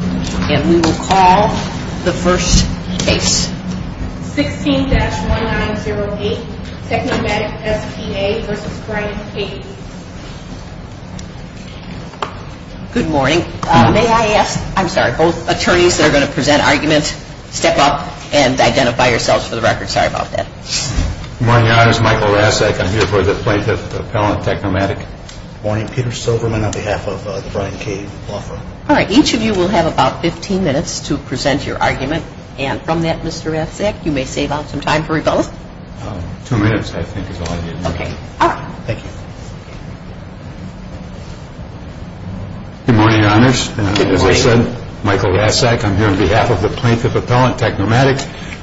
And we will call the first case. 16-1908 Technomatic S.P.A. v. Brian Cave. Good morning. May I ask, I'm sorry, both attorneys that are going to present arguments, step up and identify yourselves for the record. Sorry about that. Good morning. My name is Michael Rasek. I'm here for the Plaintiff Appellant Technomatic. Good morning. Peter Silverman on behalf of the Brian Cave Law Firm. All right. Each of you will have about 15 minutes to present your argument. And from that, Mr. Rasek, you may save out some time for rebuttal. Two minutes, I think, is all I need. Okay. All right. Thank you. Good morning, Your Honors. Good morning. As I said, Michael Rasek. I'm here on behalf of the Plaintiff Appellant Technomatic.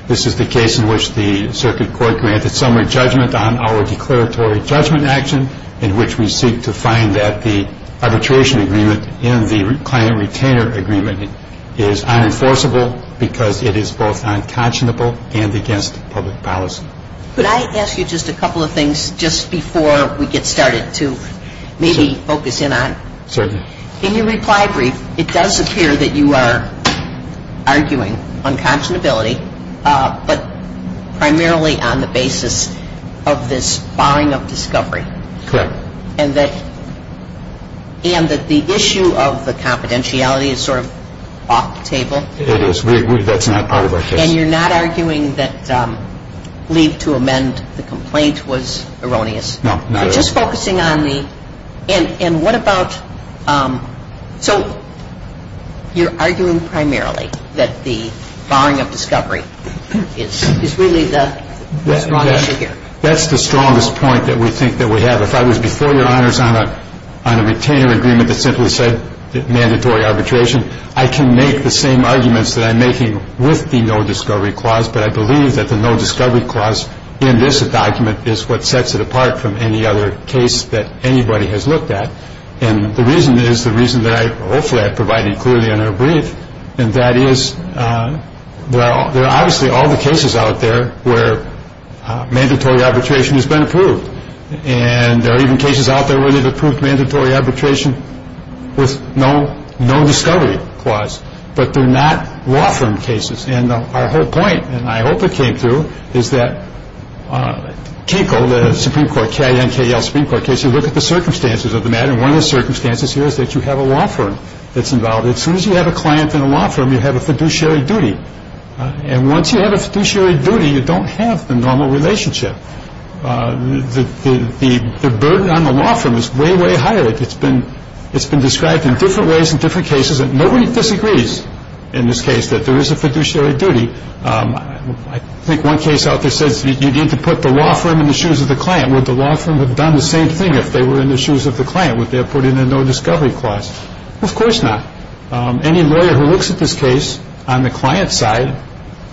This is the case in which the circuit court granted summary judgment on our declaratory judgment action in which we seek to find that the arbitration agreement in the client retainer agreement is unenforceable because it is both unconscionable and against public policy. Could I ask you just a couple of things just before we get started to maybe focus in on? Certainly. In your reply brief, it does appear that you are arguing unconscionability, but primarily on the basis of this borrowing of discovery. Correct. And that the issue of the confidentiality is sort of off the table. It is. That's not part of our case. And you're not arguing that leave to amend the complaint was erroneous? No, not at all. Just focusing on the – and what about – so you're arguing primarily that the borrowing of discovery is really the strong issue here. That's the strongest point that we think that we have. If I was before your honors on a retainer agreement that simply said mandatory arbitration, I can make the same arguments that I'm making with the no discovery clause. But I believe that the no discovery clause in this document is what sets it apart from any other case that anybody has looked at. And the reason is the reason that I hopefully have provided clearly in our brief. And that is, well, there are obviously all the cases out there where mandatory arbitration has been approved. And there are even cases out there where they've approved mandatory arbitration with no, no discovery clause. But they're not law firm cases. And our whole point, and I hope it came through, is that Kinko, the Supreme Court, K-I-N-K-L Supreme Court case, you look at the circumstances of the matter. And one of the circumstances here is that you have a law firm that's involved. As soon as you have a client in a law firm, you have a fiduciary duty. And once you have a fiduciary duty, you don't have the normal relationship. The burden on the law firm is way, way higher. It's been described in different ways in different cases. And nobody disagrees in this case that there is a fiduciary duty. I think one case out there says you need to put the law firm in the shoes of the client. And would the law firm have done the same thing if they were in the shoes of the client? Would they have put in a no discovery clause? Of course not. Any lawyer who looks at this case on the client's side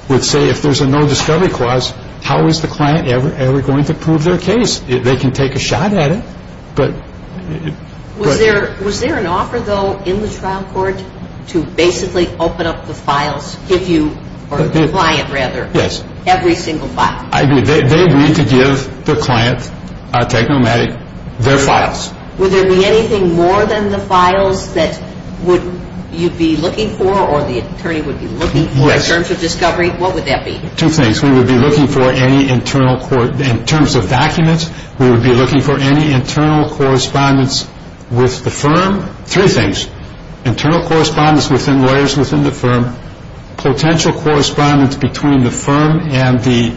would say if there's a no discovery clause, how is the client ever going to prove their case? They can take a shot at it. Was there an offer, though, in the trial court to basically open up the files, give you, or the client, rather, every single file? They agreed to give the client, Technomatic, their files. Would there be anything more than the files that you'd be looking for or the attorney would be looking for in terms of discovery? Yes. What would that be? Two things. We would be looking for any internal, in terms of documents, we would be looking for any internal correspondence with the firm. Three things. Internal correspondence within lawyers within the firm. Potential correspondence between the firm and the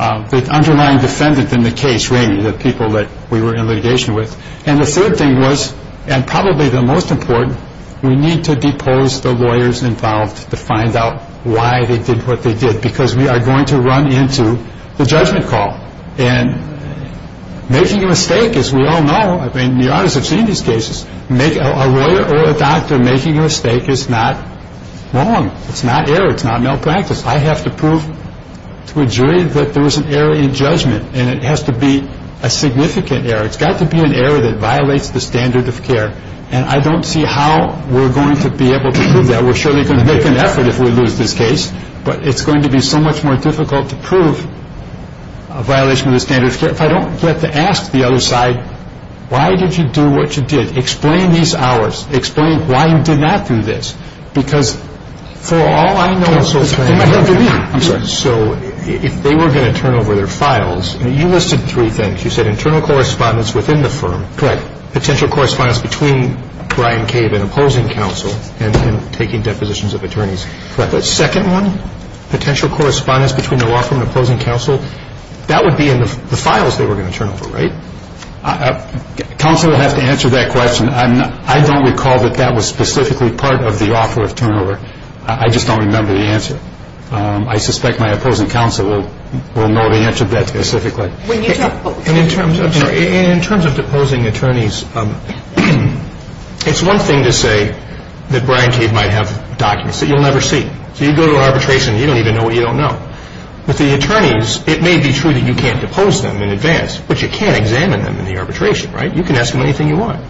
underlying defendant in the case, the people that we were in litigation with. And the third thing was, and probably the most important, we need to depose the lawyers involved to find out why they did what they did because we are going to run into the judgment call. And making a mistake, as we all know, the audience has seen these cases, a lawyer or a doctor making a mistake is not wrong. It's not error. It's not malpractice. I have to prove to a jury that there was an error in judgment, and it has to be a significant error. It's got to be an error that violates the standard of care, and I don't see how we're going to be able to prove that. We're surely going to make an effort if we lose this case, but it's going to be so much more difficult to prove a violation of the standard of care. If I don't get to ask the other side, why did you do what you did? Explain these hours. Explain why you did not do this. Because for all I know, it's going to have to be. I'm sorry. So if they were going to turn over their files, you listed three things. You said internal correspondence within the firm. Correct. Potential correspondence between Brian Cave and opposing counsel and taking depositions of attorneys. Correct. The second one, potential correspondence between the law firm and opposing counsel, that would be in the files they were going to turn over, right? Counsel would have to answer that question. I don't recall that that was specifically part of the offer of turnover. I just don't remember the answer. I suspect my opposing counsel will know the answer to that specifically. In terms of deposing attorneys, it's one thing to say that Brian Cave might have documents that you'll never see. So you go to arbitration, you don't even know what you don't know. With the attorneys, it may be true that you can't depose them in advance, but you can examine them in the arbitration, right? You can ask them anything you want.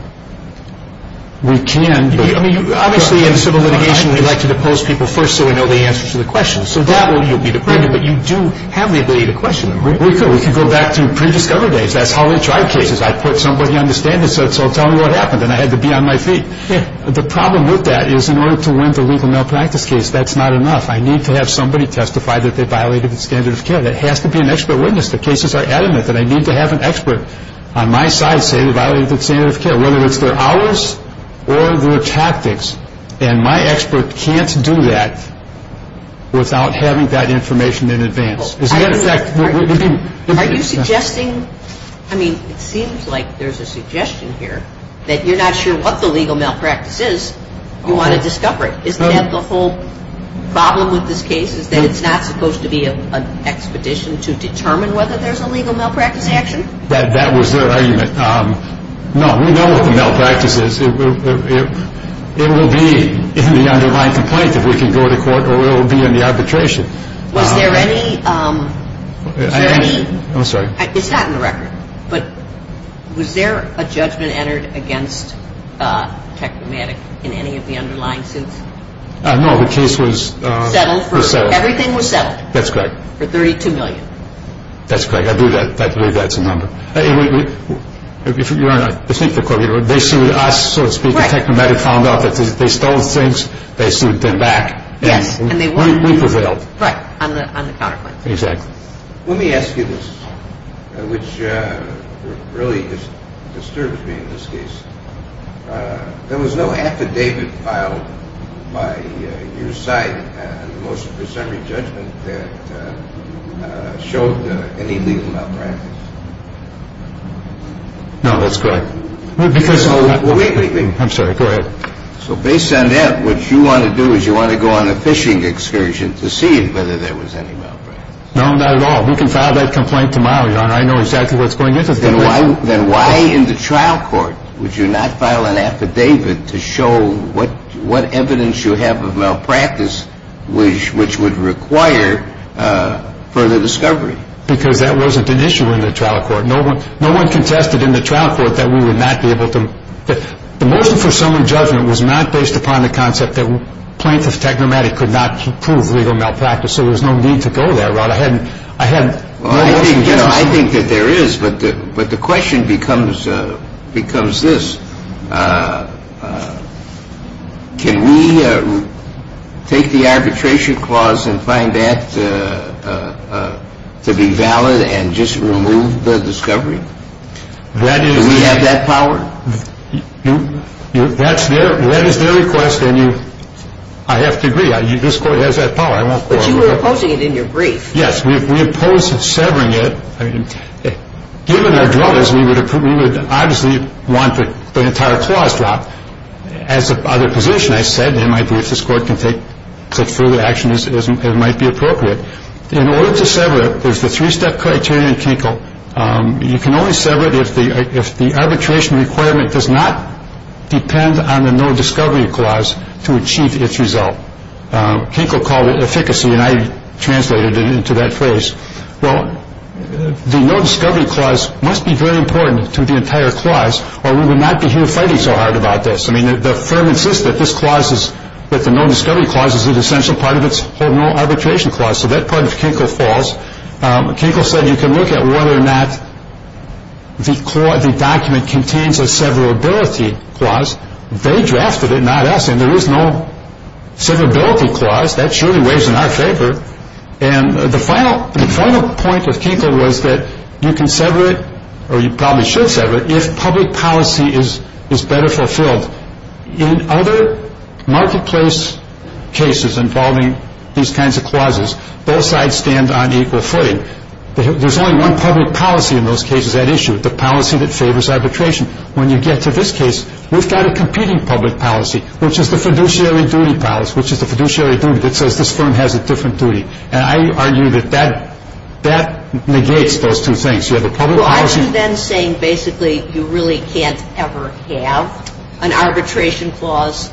We can. I mean, obviously in civil litigation, we like to depose people first so we know the answers to the questions. So that way you'll be depended, but you do have the ability to question them, right? We could. We could go back to pre-discovery days. That's how we tried cases. I put somebody on the stand and said, so tell me what happened, and I had to be on my feet. The problem with that is in order to win the legal malpractice case, that's not enough. I need to have somebody testify that they violated the standard of care. That has to be an expert witness. The cases are adamant that I need to have an expert on my side say they violated the standard of care, whether it's their hours or their tactics, and my expert can't do that without having that information in advance. Is that a fact? Are you suggesting, I mean, it seems like there's a suggestion here that you're not sure what the legal malpractice is, you want to discover it. Is that the whole problem with this case is that it's not supposed to be an expedition to determine whether there's a legal malpractice action? That was their argument. No, we know what the malpractice is. It will be in the underlying complaint if we can go to court, or it will be in the arbitration. Was there any... I'm sorry. It's not in the record, but was there a judgment entered against Technomatic in any of the underlying suits? No, the case was... Settled. Everything was settled. That's correct. For $32 million. That's correct. I believe that's a number. If you think the court, they sued us, so to speak, and Technomatic found out that they stole things, they sued them back. Yes, and they won. We prevailed. Right, on the counterpoint. Exactly. Let me ask you this, which really disturbs me in this case. There was no affidavit filed by your side in the motion for summary judgment that showed any legal malpractice? No, that's correct. Wait a minute. I'm sorry. Go ahead. So based on that, what you want to do is you want to go on a fishing excursion to see whether there was any malpractice? No, not at all. We can file that complaint tomorrow, Your Honor. I know exactly what's going into the complaint. Then why in the trial court would you not file an affidavit to show what evidence you have of malpractice which would require further discovery? Because that wasn't an issue in the trial court. No one contested in the trial court that we would not be able to... The motion for summary judgment was not based upon the concept that plaintiff Technomatic could not prove legal malpractice, so there was no need to go that route. I think that there is, but the question becomes this. Can we take the arbitration clause and find that to be valid and just remove the discovery? Do we have that power? That is their request, and I have to agree. This court has that power. But you were opposing it in your brief. Yes, we opposed severing it. Given our druthers, we would obviously want the entire clause dropped. As a position, I said there might be if this court can take further action, it might be appropriate. In order to sever it, there's the three-step criteria in Kinko. You can only sever it if the arbitration requirement does not depend on the no discovery clause to achieve its result. Kinko called it efficacy, and I translated it into that phrase. The no discovery clause must be very important to the entire clause, or we would not be here fighting so hard about this. The firm insists that the no discovery clause is an essential part of its whole arbitration clause, so that part of Kinko falls. Kinko said you can look at whether or not the document contains a severability clause. They drafted it, not us, and there is no severability clause. That surely weighs in our favor. And the final point of Kinko was that you can sever it, or you probably should sever it, if public policy is better fulfilled. In other marketplace cases involving these kinds of clauses, both sides stand on equal footing. There's only one public policy in those cases at issue, the policy that favors arbitration. When you get to this case, we've got a competing public policy, which is the fiduciary duty policy, which is the fiduciary duty that says this firm has a different duty. And I argue that that negates those two things. You have the public policy. Well, aren't you then saying basically you really can't ever have an arbitration clause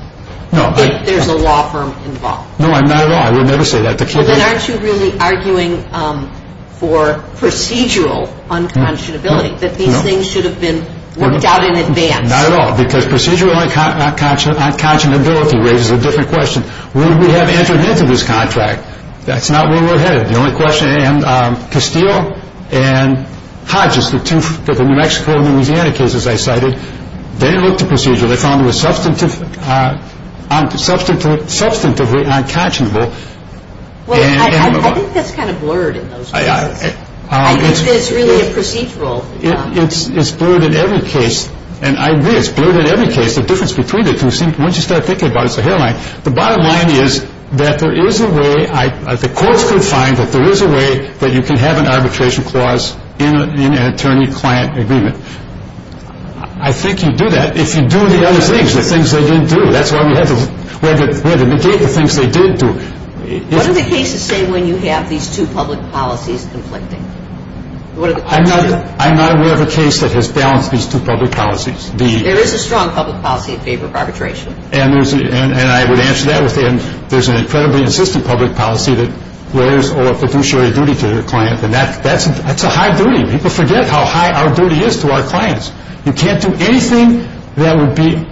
if there's a law firm involved? No, not at all. I would never say that. Then aren't you really arguing for procedural unconscionability, that these things should have been worked out in advance? Not at all, because procedural unconscionability raises a different question. We have entered into this contract. That's not where we're headed. The only question, and Castillo and Hodges, the two New Mexico and Louisiana cases I cited, they looked at procedural. They found it was substantively unconscionable. Well, I think that's kind of blurred in those cases. I think it's really a procedural. It's blurred in every case. And I agree, it's blurred in every case. The difference between the two seems, once you start thinking about it, it's a hairline. The bottom line is that there is a way, the courts could find that there is a way that you can have an arbitration clause in an attorney-client agreement. I think you do that if you do the other things, the things they didn't do. That's why we have to negate the things they did do. What do the cases say when you have these two public policies conflicting? I'm not aware of a case that has balanced these two public policies. There is a strong public policy in favor of arbitration. And I would answer that with, there's an incredibly insistent public policy that lawyers owe a fiduciary duty to their client, and that's a high duty. People forget how high our duty is to our clients. You can't do anything that would be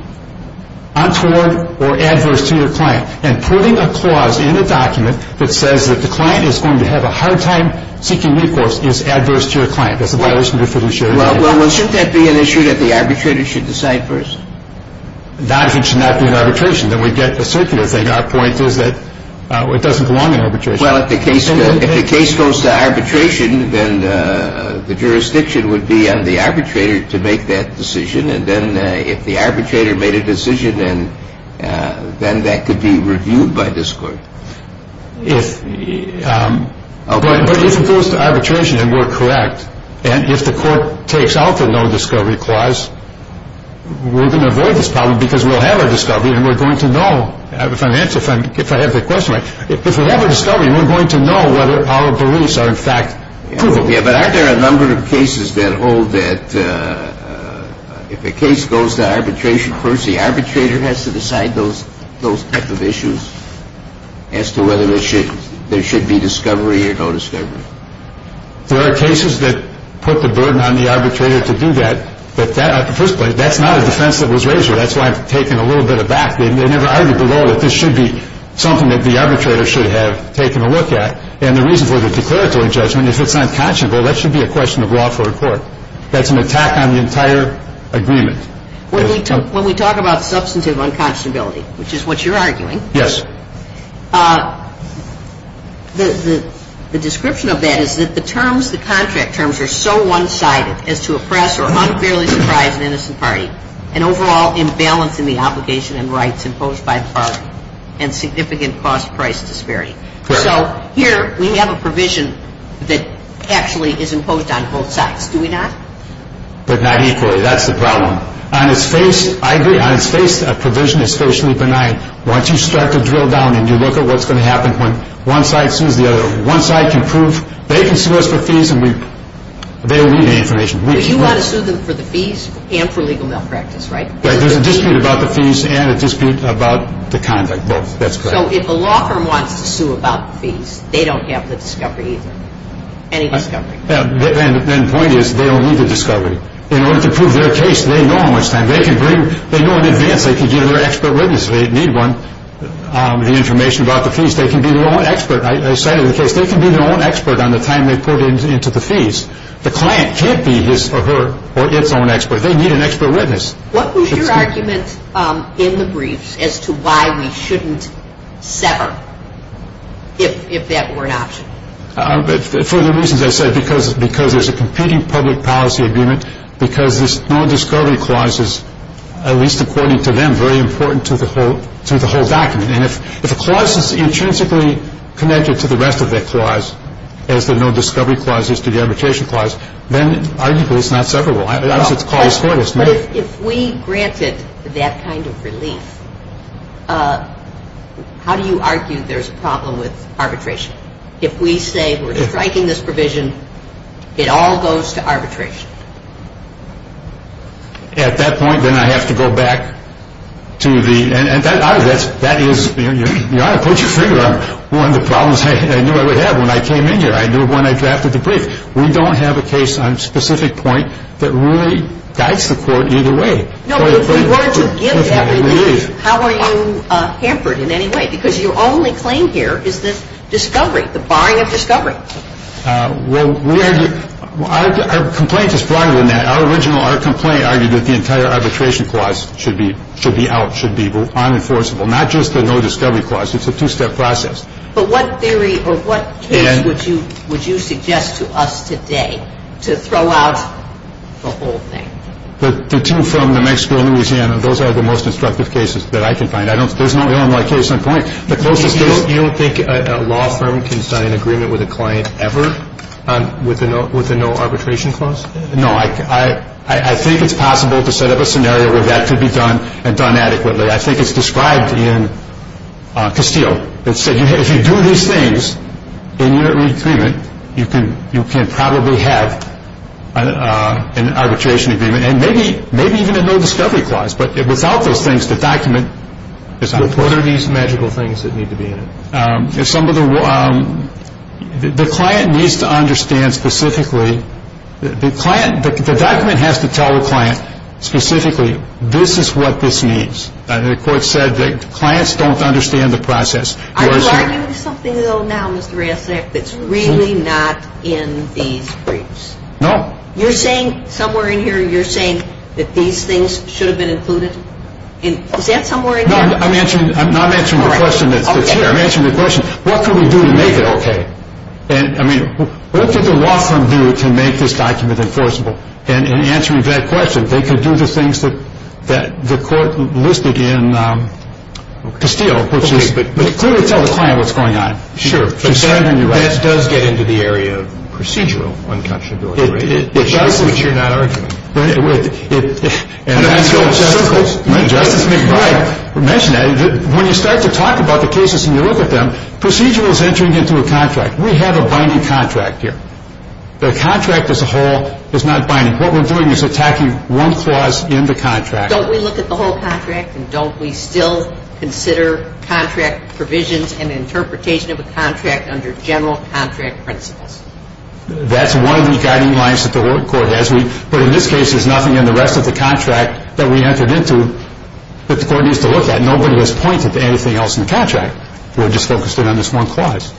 untoward or adverse to your client. And putting a clause in a document that says that the client is going to have a hard time seeking recourse is adverse to your client. That's a violation of your fiduciary duty. Well, shouldn't that be an issue that the arbitrator should decide first? Not if it should not be an arbitration. Then we get the circular thing. Our point is that it doesn't belong in arbitration. Well, if the case goes to arbitration, then the jurisdiction would be on the arbitrator to make that decision. And then if the arbitrator made a decision, then that could be reviewed by this court. But if it goes to arbitration and we're correct, and if the court takes out the no discovery clause, we're going to avoid this problem because we'll have a discovery and we're going to know, if I have the question right, if we have a discovery, we're going to know whether our beliefs are in fact provable. Yeah, but aren't there a number of cases that hold that if a case goes to arbitration first, the arbitrator has to decide those type of issues as to whether there should be discovery or no discovery? There are cases that put the burden on the arbitrator to do that. But that's not a defense that was raised here. That's why I've taken a little bit of back. They never argued below that this should be something that the arbitrator should have taken a look at. And the reason for the declaratory judgment is if it's unconscionable, that should be a question of law for a court. That's an attack on the entire agreement. When we talk about substantive unconscionability, which is what you're arguing, yes, the description of that is that the terms, the contract terms, are so one-sided as to oppress or unfairly surprise an innocent party and overall imbalance in the obligation and rights imposed by the party and significant cost price disparity. So here we have a provision that actually is imposed on both sides. Do we not? But not equally. That's the problem. On its face, I agree, on its face, a provision is spatially benign. Once you start to drill down and you look at what's going to happen when one side sues the other, one side can prove they can sue us for fees and they'll leave me information. But you want to sue them for the fees and for legal malpractice, right? There's a dispute about the fees and a dispute about the conduct. That's correct. So if a law firm wants to sue about the fees, they don't have the discovery either? Any discovery? The point is they don't need the discovery. In order to prove their case, they know how much time. They know in advance they can give their expert witness if they need one, the information about the fees. They can be their own expert. I cited the case. They can be their own expert on the time they put into the fees. The client can't be his or her or its own expert. They need an expert witness. What was your argument in the briefs as to why we shouldn't sever if that were an option? For the reasons I said, because there's a competing public policy agreement, because this no discovery clause is, at least according to them, very important to the whole document. And if a clause is intrinsically connected to the rest of that clause, as the no discovery clause is to the arbitration clause, then arguably it's not severable. But if we granted that kind of relief, how do you argue there's a problem with arbitration? If we say we're striking this provision, it all goes to arbitration. At that point, then I have to go back to the end. That is, Your Honor, put your finger on one of the problems I knew I would have when I came in here. I knew when I drafted the brief. We don't have a case on a specific point that really guides the court either way. No, but if we were to give that relief, how are you hampered in any way? Because your only claim here is the discovery, the barring of discovery. Well, our complaint is broader than that. Our original complaint argued that the entire arbitration clause should be out, should be unenforceable, not just the no discovery clause. It's a two-step process. But what theory or what case would you suggest to us today to throw out the whole thing? The two from New Mexico and Louisiana, those are the most instructive cases that I can find. There's no other case on point. You don't think a law firm can sign an agreement with a client ever with a no arbitration clause? No. I think it's possible to set up a scenario where that could be done and done adequately. I think it's described in Castile. It said if you do these things in your agreement, you can probably have an arbitration agreement and maybe even a no discovery clause. But without those things, the document is out of place. What are these magical things that need to be in it? The client needs to understand specifically, the document has to tell the client specifically, this is what this means. And the court said that clients don't understand the process. Are you arguing with something, though, now, Mr. Rasnack, that's really not in these briefs? No. You're saying somewhere in here, you're saying that these things should have been included? Is that somewhere in here? No, I'm answering the question that's here. I'm answering the question, what could we do to make it okay? I mean, what could the law firm do to make this document enforceable? And in answering that question, they could do the things that the court listed in Castile, which is clearly tell the client what's going on. Sure. But that does get into the area of procedural unconscionability, right? Which you're not arguing. Justice McBride mentioned that. When you start to talk about the cases and you look at them, procedural is entering into a contract. We have a binding contract here. The contract as a whole is not binding. What we're doing is attacking one clause in the contract. Don't we look at the whole contract, and don't we still consider contract provisions and interpretation of a contract under general contract principles? That's one of the guiding lines that the court has. But in this case, there's nothing in the rest of the contract that we entered into that the court needs to look at. Nobody has pointed to anything else in the contract. We're just focused in on this one clause.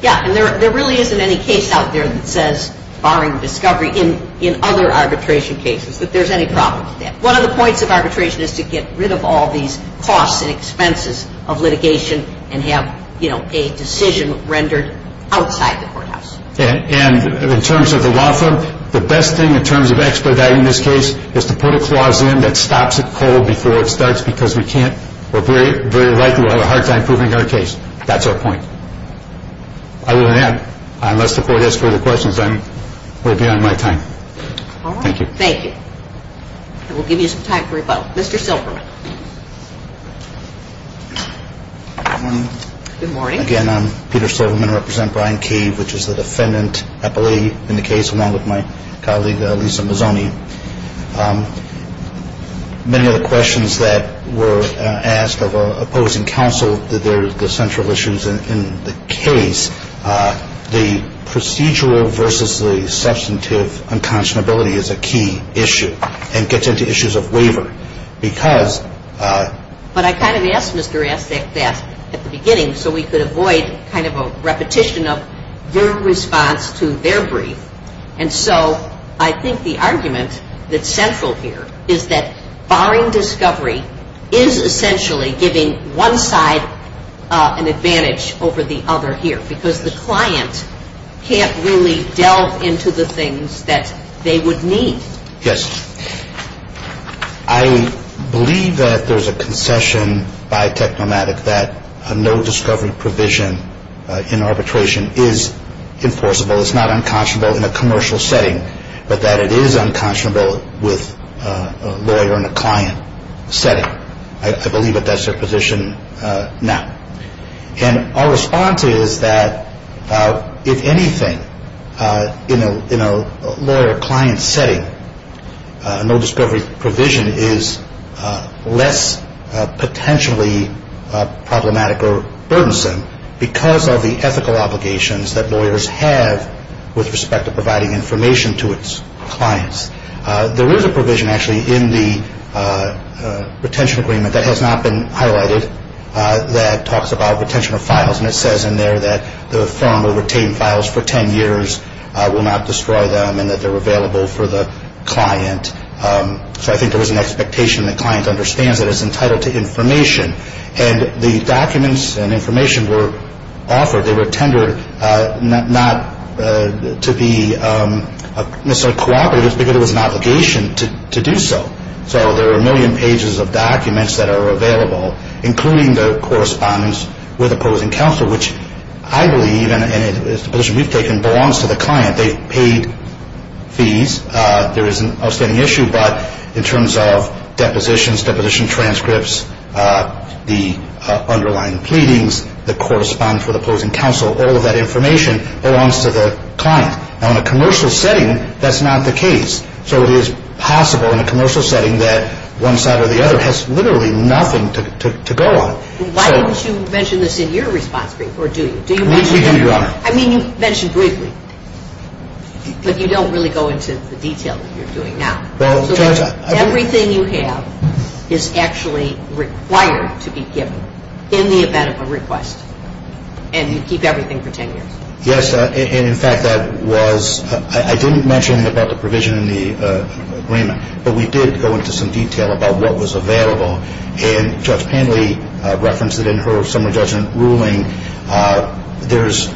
Yeah, and there really isn't any case out there that says, barring discovery, in other arbitration cases that there's any problem with that. One of the points of arbitration is to get rid of all these costs and expenses of litigation and have a decision rendered outside the courthouse. And in terms of the law firm, the best thing in terms of expediting this case is to put a clause in that stops it cold before it starts because we're very likely to have a hard time proving our case. That's our point. Other than that, unless the court has further questions, I'm way beyond my time. All right. Thank you. Thank you. And we'll give you some time for rebuttal. Mr. Silverman. Good morning. Again, I'm Peter Silverman. I represent Brian Cave, which is the defendant appellee in the case, along with my colleague, Lisa Mazzoni. Many of the questions that were asked of opposing counsel, the central issues in the case, the procedural versus the substantive unconscionability is a key issue and gets into issues of waiver. Because – But I kind of asked Mr. Astec that at the beginning so we could avoid kind of a repetition of your response to their brief. And so I think the argument that's central here is that barring discovery is essentially giving one side an advantage over the other here because the client can't really delve into the things that they would need. Yes. I believe that there's a concession by Technomatic that a no-discovery provision in arbitration is enforceable. It's not unconscionable in a commercial setting, but that it is unconscionable with a lawyer in a client setting. I believe that that's their position now. And our response is that if anything, in a lawyer-client setting, a no-discovery provision is less potentially problematic or burdensome because of the ethical obligations that lawyers have with respect to providing information to its clients. There is a provision actually in the retention agreement that has not been highlighted that talks about retention of files. And it says in there that the firm will retain files for 10 years, will not destroy them, and that they're available for the client. So I think there is an expectation that the client understands that it's entitled to information. And the documents and information were offered. They were tendered not to be misappropriated because it was an obligation to do so. So there are a million pages of documents that are available, including the correspondence with opposing counsel, which I believe, and it's the position we've taken, belongs to the client. They've paid fees. There is an outstanding issue, but in terms of depositions, deposition transcripts, the underlying pleadings that correspond for the opposing counsel, all of that information belongs to the client. Now, in a commercial setting, that's not the case. So it is possible in a commercial setting that one side or the other has literally nothing to go on. Why didn't you mention this in your response brief, or do you? We do, Your Honor. I mean, you mentioned briefly, but you don't really go into the detail that you're doing now. Everything you have is actually required to be given in the event of a request, and you keep everything for 10 years. Yes, and, in fact, that was – I didn't mention about the provision in the agreement, but we did go into some detail about what was available. And Judge Panley referenced it in her summary judgment ruling. There's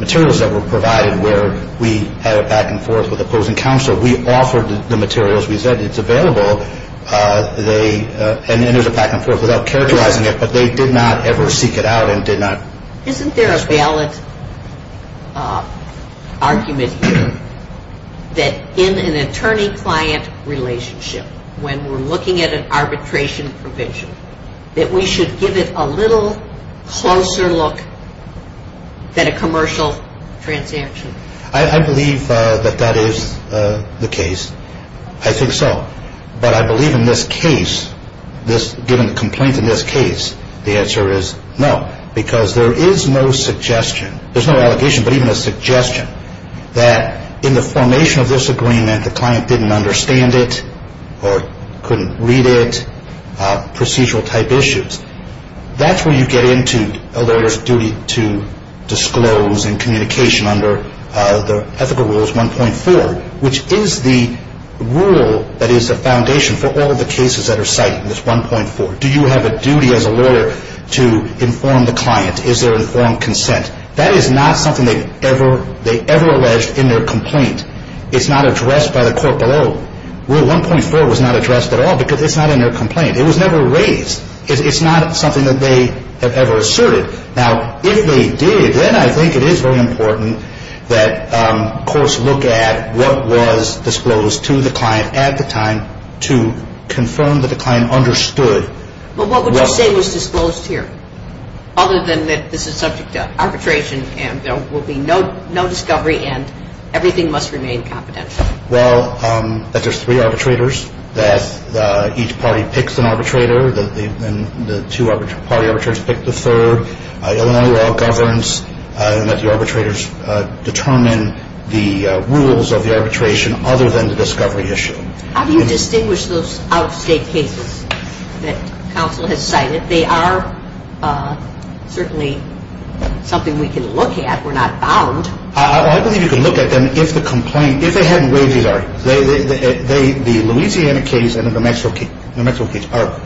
materials that were provided where we had a back-and-forth with opposing counsel. We offered the materials. We said it's available, and there's a back-and-forth without characterizing it, but they did not ever seek it out and did not – Isn't there a valid argument here that in an attorney-client relationship, when we're looking at an arbitration provision, that we should give it a little closer look than a commercial transaction? I believe that that is the case. I think so, but I believe in this case, given the complaint in this case, the answer is no, because there is no suggestion – there's no allegation, but even a suggestion that in the formation of this agreement, the client didn't understand it or couldn't read it, procedural-type issues. That's where you get into a lawyer's duty to disclose and communication under the ethical rules 1.4, which is the rule that is the foundation for all the cases that are cited in this 1.4. Do you have a duty as a lawyer to inform the client? Is there informed consent? That is not something they ever alleged in their complaint. It's not addressed by the court below. Rule 1.4 was not addressed at all because it's not in their complaint. It was never raised. It's not something that they have ever asserted. Now, if they did, then I think it is very important that courts look at what was disclosed to the client at the time to confirm that the client understood. But what would you say was disclosed here, other than that this is subject to arbitration and there will be no discovery and everything must remain confidential? Well, that there's three arbitrators, that each party picks an arbitrator, and the two party arbitrators pick the third, Illinois law governs, and that the arbitrators determine the rules of the arbitration other than the discovery issue. How do you distinguish those out-of-state cases that counsel has cited? They are certainly something we can look at. We're not bound. I believe you can look at them if the complaint, if they haven't raised these already. The Louisiana case and the New Mexico case are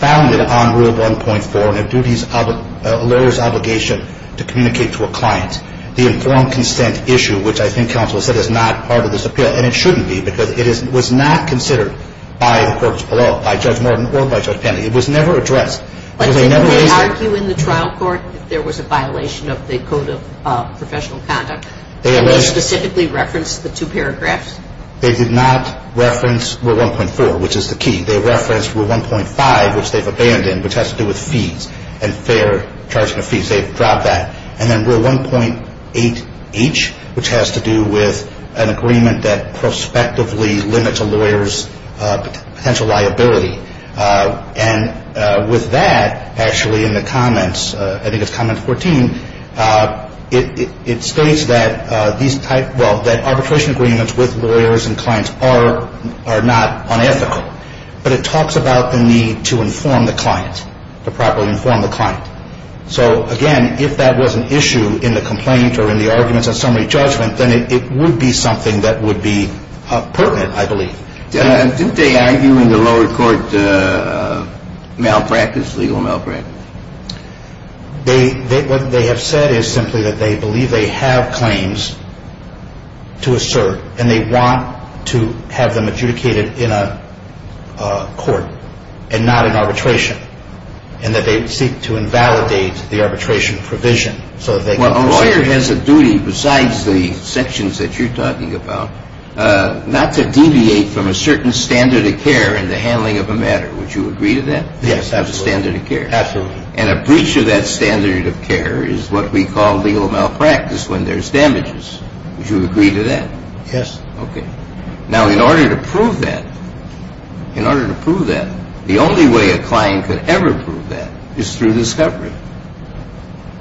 founded on Rule 1.4, and a lawyer's obligation to communicate to a client. The informed consent issue, which I think counsel has said is not part of this appeal, and it shouldn't be because it was not considered by the courts below, by Judge Morton or by Judge Penley. It was never addressed. But did they argue in the trial court if there was a violation of the Code of Professional Conduct? Did they specifically reference the two paragraphs? They did not reference Rule 1.4, which is the key. They referenced Rule 1.5, which they've abandoned, which has to do with fees and fair charging of fees. They've dropped that. And then Rule 1.8H, which has to do with an agreement that prospectively limits a lawyer's potential liability. And with that, actually, in the comments, I think it's comment 14, it states that these type, well, that arbitration agreements with lawyers and clients are not unethical. But it talks about the need to inform the client, to properly inform the client. So, again, if that was an issue in the complaint or in the arguments and summary judgment, then it would be something that would be pertinent, I believe. Did they argue in the lower court malpractice, legal malpractice? What they have said is simply that they believe they have claims to assert, and they want to have them adjudicated in a court and not in arbitration, and that they would seek to invalidate the arbitration provision so that they can proceed. Well, a lawyer has a duty, besides the sections that you're talking about, not to deviate from a certain standard of care in the handling of a matter. Would you agree to that? Yes, absolutely. That's a standard of care. Absolutely. And a breach of that standard of care is what we call legal malpractice when there's damages. Would you agree to that? Yes. Okay. Now, in order to prove that, in order to prove that, the only way a client could ever prove that is through discovery,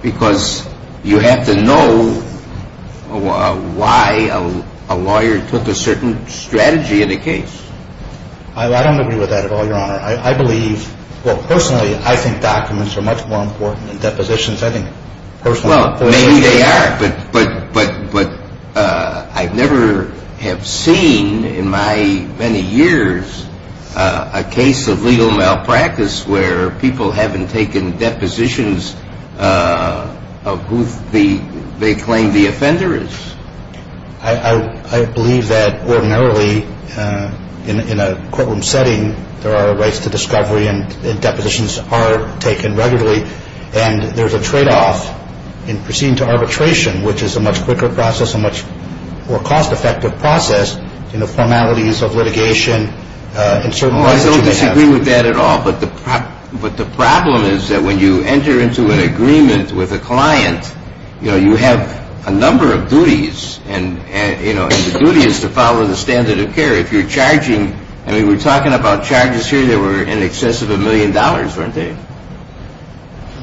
because you have to know why a lawyer took a certain strategy in a case. I don't agree with that at all, Your Honor. I believe, well, personally, I think documents are much more important than depositions. I think personal depositions are more important. Well, maybe they are, but I never have seen in my many years a case of legal malpractice where people haven't taken depositions of who they claim the offender is. I believe that, ordinarily, in a courtroom setting, there are rights to discovery and depositions are taken regularly, and there's a trade-off in proceeding to arbitration, which is a much quicker process, a much more cost-effective process, in the formalities of litigation in certain cases. Well, I don't disagree with that at all, but the problem is that when you enter into an agreement with a client, you know, you have a number of duties, and the duty is to follow the standard of care. If you're charging, I mean, we're talking about charges here They were in excess of a million dollars, weren't they?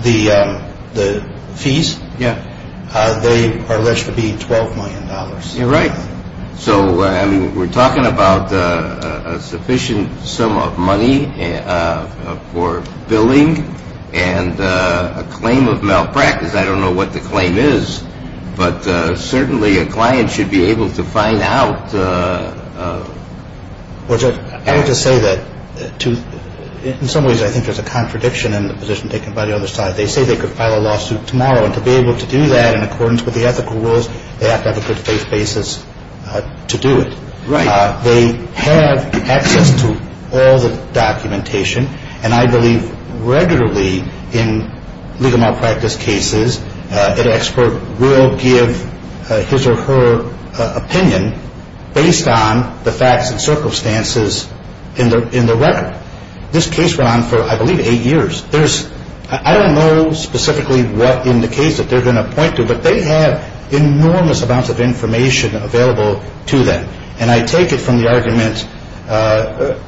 The fees? Yeah. They are alleged to be $12 million. You're right. So we're talking about a sufficient sum of money for billing and a claim of malpractice. I don't know what the claim is, but certainly a client should be able to find out. I would just say that, in some ways, I think there's a contradiction in the position taken by the other side. They say they could file a lawsuit tomorrow, and to be able to do that in accordance with the ethical rules, they have to have a good faith basis to do it. Right. They have access to all the documentation, and I believe regularly in legal malpractice cases, an expert will give his or her opinion based on the facts and circumstances in the record. This case went on for, I believe, eight years. I don't know specifically what in the case that they're going to point to, but they have enormous amounts of information available to them, and I take it from the argument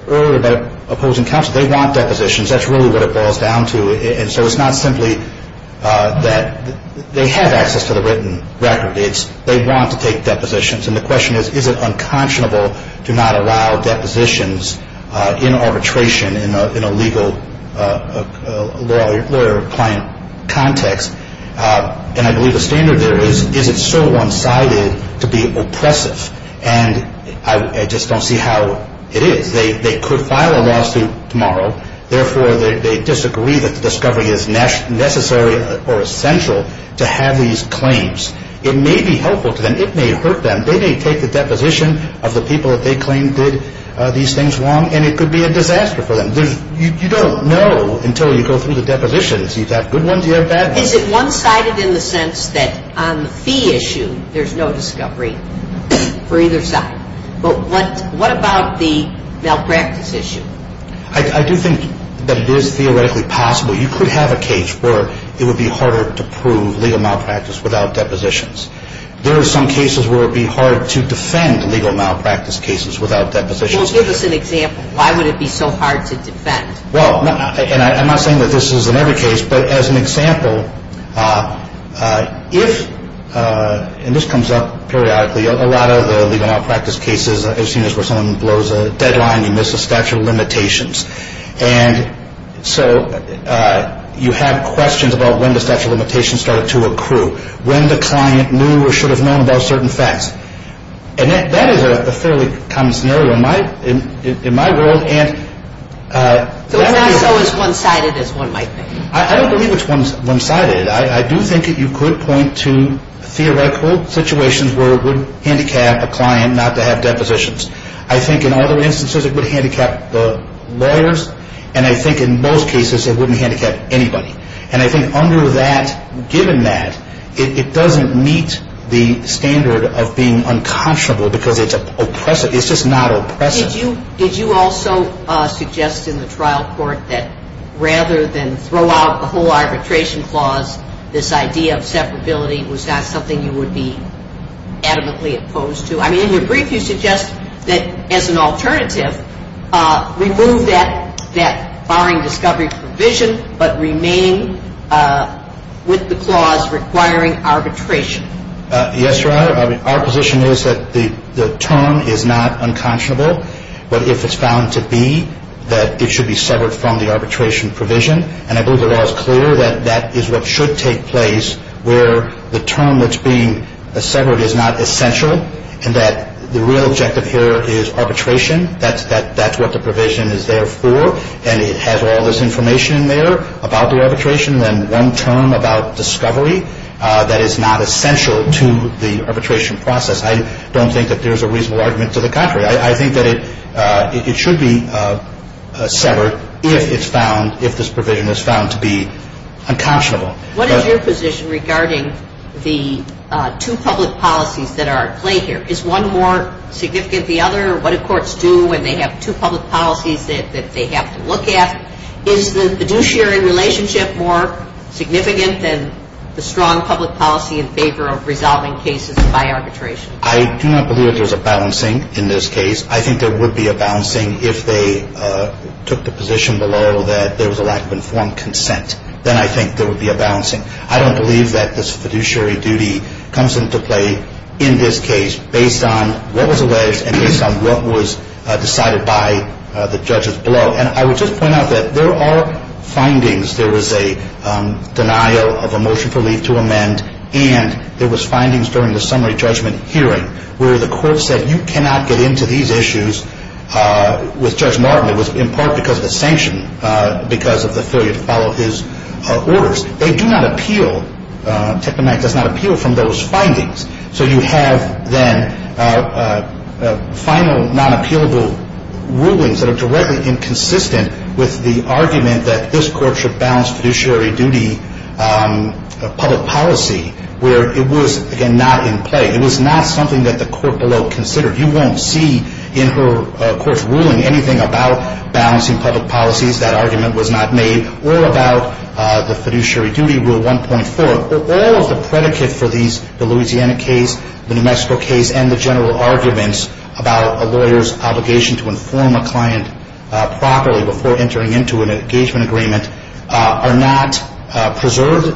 earlier about opposing counsel. They want depositions. That's really what it boils down to, and so it's not simply that they have access to the written record. They want to take depositions, and the question is, is it unconscionable to not allow depositions in arbitration in a legal lawyer-client context? And I believe the standard there is, is it so one-sided to be oppressive? And I just don't see how it is. They could file a lawsuit tomorrow. Therefore, they disagree that the discovery is necessary or essential to have these claims. It may be helpful to them. It may hurt them. They may take the deposition of the people that they claim did these things wrong, and it could be a disaster for them. You don't know until you go through the depositions. You've got good ones. You have bad ones. Is it one-sided in the sense that on the fee issue, there's no discovery for either side? But what about the malpractice issue? I do think that it is theoretically possible. You could have a case where it would be harder to prove legal malpractice without depositions. There are some cases where it would be hard to defend legal malpractice cases without depositions. Well, give us an example. Why would it be so hard to defend? Well, and I'm not saying that this is in every case, but as an example, if, and this comes up periodically, a lot of the legal malpractice cases, as soon as someone blows a deadline, you miss a statute of limitations. And so you have questions about when the statute of limitations started to accrue, when the client knew or should have known about certain facts. And that is a fairly common scenario in my world. So it's not so as one-sided as one might think? I don't believe it's one-sided. I do think that you could point to theoretical situations where it would handicap a client not to have depositions. I think in other instances it would handicap the lawyers, and I think in most cases it wouldn't handicap anybody. And I think under that, given that, it doesn't meet the standard of being unconscionable because it's oppressive. It's just not oppressive. Did you also suggest in the trial court that rather than throw out the whole arbitration clause, this idea of separability was not something you would be adamantly opposed to? I mean, in your brief you suggest that as an alternative, remove that barring discovery provision, but remain with the clause requiring arbitration. Yes, Your Honor. Our position is that the term is not unconscionable, but if it's found to be, that it should be severed from the arbitration provision. And I believe the law is clear that that is what should take place where the term that's being severed is not essential and that the real objective here is arbitration. That's what the provision is there for, and it has all this information in there about the arbitration and one term about discovery that is not essential to the arbitration process. I don't think that there's a reasonable argument to the contrary. I think that it should be severed if it's found, if this provision is found to be unconscionable. What is your position regarding the two public policies that are at play here? Is one more significant than the other? What do courts do when they have two public policies that they have to look at? Is the fiduciary relationship more significant than the strong public policy in favor of resolving cases by arbitration? I do not believe there's a balancing in this case. I think there would be a balancing if they took the position below that there was a lack of informed consent. Then I think there would be a balancing. I don't believe that this fiduciary duty comes into play in this case based on what was alleged and based on what was decided by the judges below. And I would just point out that there are findings. There was a denial of a motion for leave to amend, and there was findings during the summary judgment hearing where the court said you cannot get into these issues with Judge Martin. It was in part because of the sanction because of the failure to follow his orders. They do not appeal. Technomag does not appeal from those findings. So you have then final non-appealable rulings that are directly inconsistent with the argument that this court should balance fiduciary duty public policy where it was, again, not in play. It was not something that the court below considered. You won't see in her court's ruling anything about balancing public policies. That argument was not made, or about the fiduciary duty rule 1.4. But the rules, the predicate for these, the Louisiana case, the New Mexico case, and the general arguments about a lawyer's obligation to inform a client properly before entering into an engagement agreement are not preserved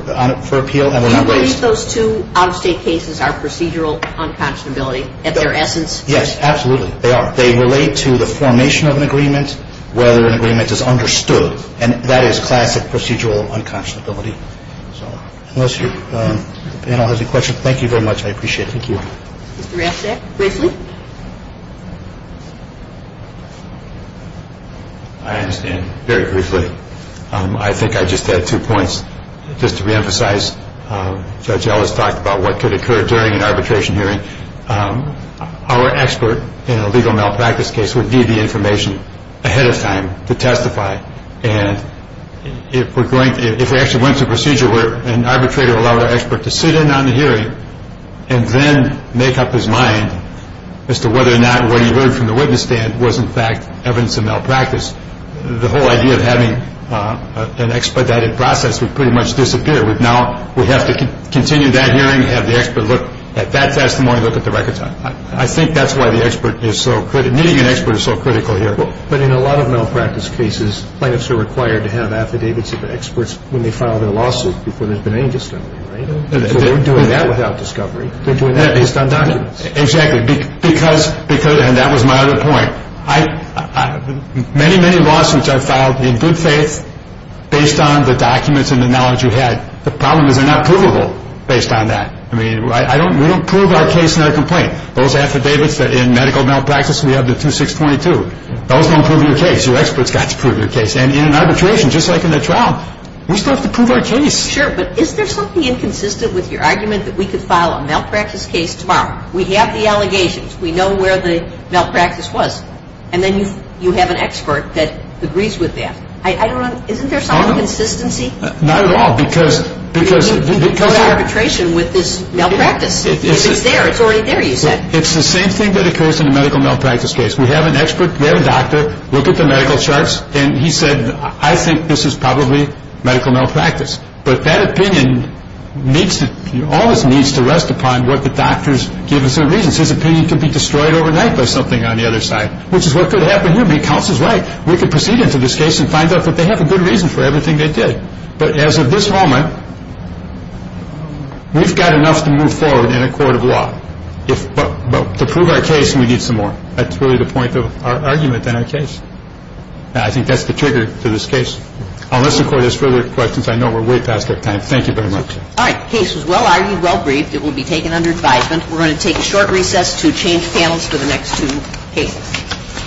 for appeal and were not raised. Do you believe those two out-of-state cases are procedural unconscionability at their essence? Yes, absolutely. They are. They relate to the formation of an agreement, whether an agreement is understood. And that is classic procedural unconscionability. So unless your panel has any questions, thank you very much. I appreciate it. Thank you. Mr. Raschak, briefly. I understand. Very briefly. I think I just had two points. Just to reemphasize, Judge Ellis talked about what could occur during an arbitration hearing. Our expert in a legal malpractice case would need the information ahead of time to testify. And if we actually went to a procedure where an arbitrator allowed our expert to sit in on the hearing and then make up his mind as to whether or not what he heard from the witness stand was, in fact, evidence of malpractice, the whole idea of having an expedited process would pretty much disappear. Now we have to continue that hearing, have the expert look at that testimony, look at the records. I think that's why the expert is so critical. Needing an expert is so critical here. But in a lot of malpractice cases, plaintiffs are required to have affidavits of experts when they file their lawsuit before there's been any testimony, right? So they're doing that without discovery. They're doing that based on documents. Exactly. And that was my other point. Many, many lawsuits are filed in good faith based on the documents and the knowledge you had. The problem is they're not provable based on that. I mean, we don't prove our case in our complaint. Those affidavits in medical malpractice, we have the 2622. Those don't prove your case. Your expert's got to prove your case. And in an arbitration, just like in a trial, we still have to prove our case. Sure, but is there something inconsistent with your argument that we could file a malpractice case tomorrow? We have the allegations. We know where the malpractice was. And then you have an expert that agrees with that. I don't know. Isn't there some inconsistency? Not at all. You could go to arbitration with this malpractice. If it's there, it's already there, you said. It's the same thing that occurs in a medical malpractice case. We have an expert. We have a doctor. Look at the medical charts. And he said, I think this is probably medical malpractice. But that opinion always needs to rest upon what the doctor's given certain reasons. His opinion could be destroyed overnight by something on the other side, which is what could happen here. I mean, Counsel's right. We could proceed into this case and find out that they have a good reason for everything they did. But as of this moment, we've got enough to move forward in a court of law. But to prove our case, we need some more. That's really the point of our argument in our case. I think that's the trigger to this case. Unless, of course, there's further questions, I know we're way past our time. Thank you very much. All right. Case was well-argued, well-briefed. It will be taken under advisement. We're going to take a short recess to change panels for the next two cases.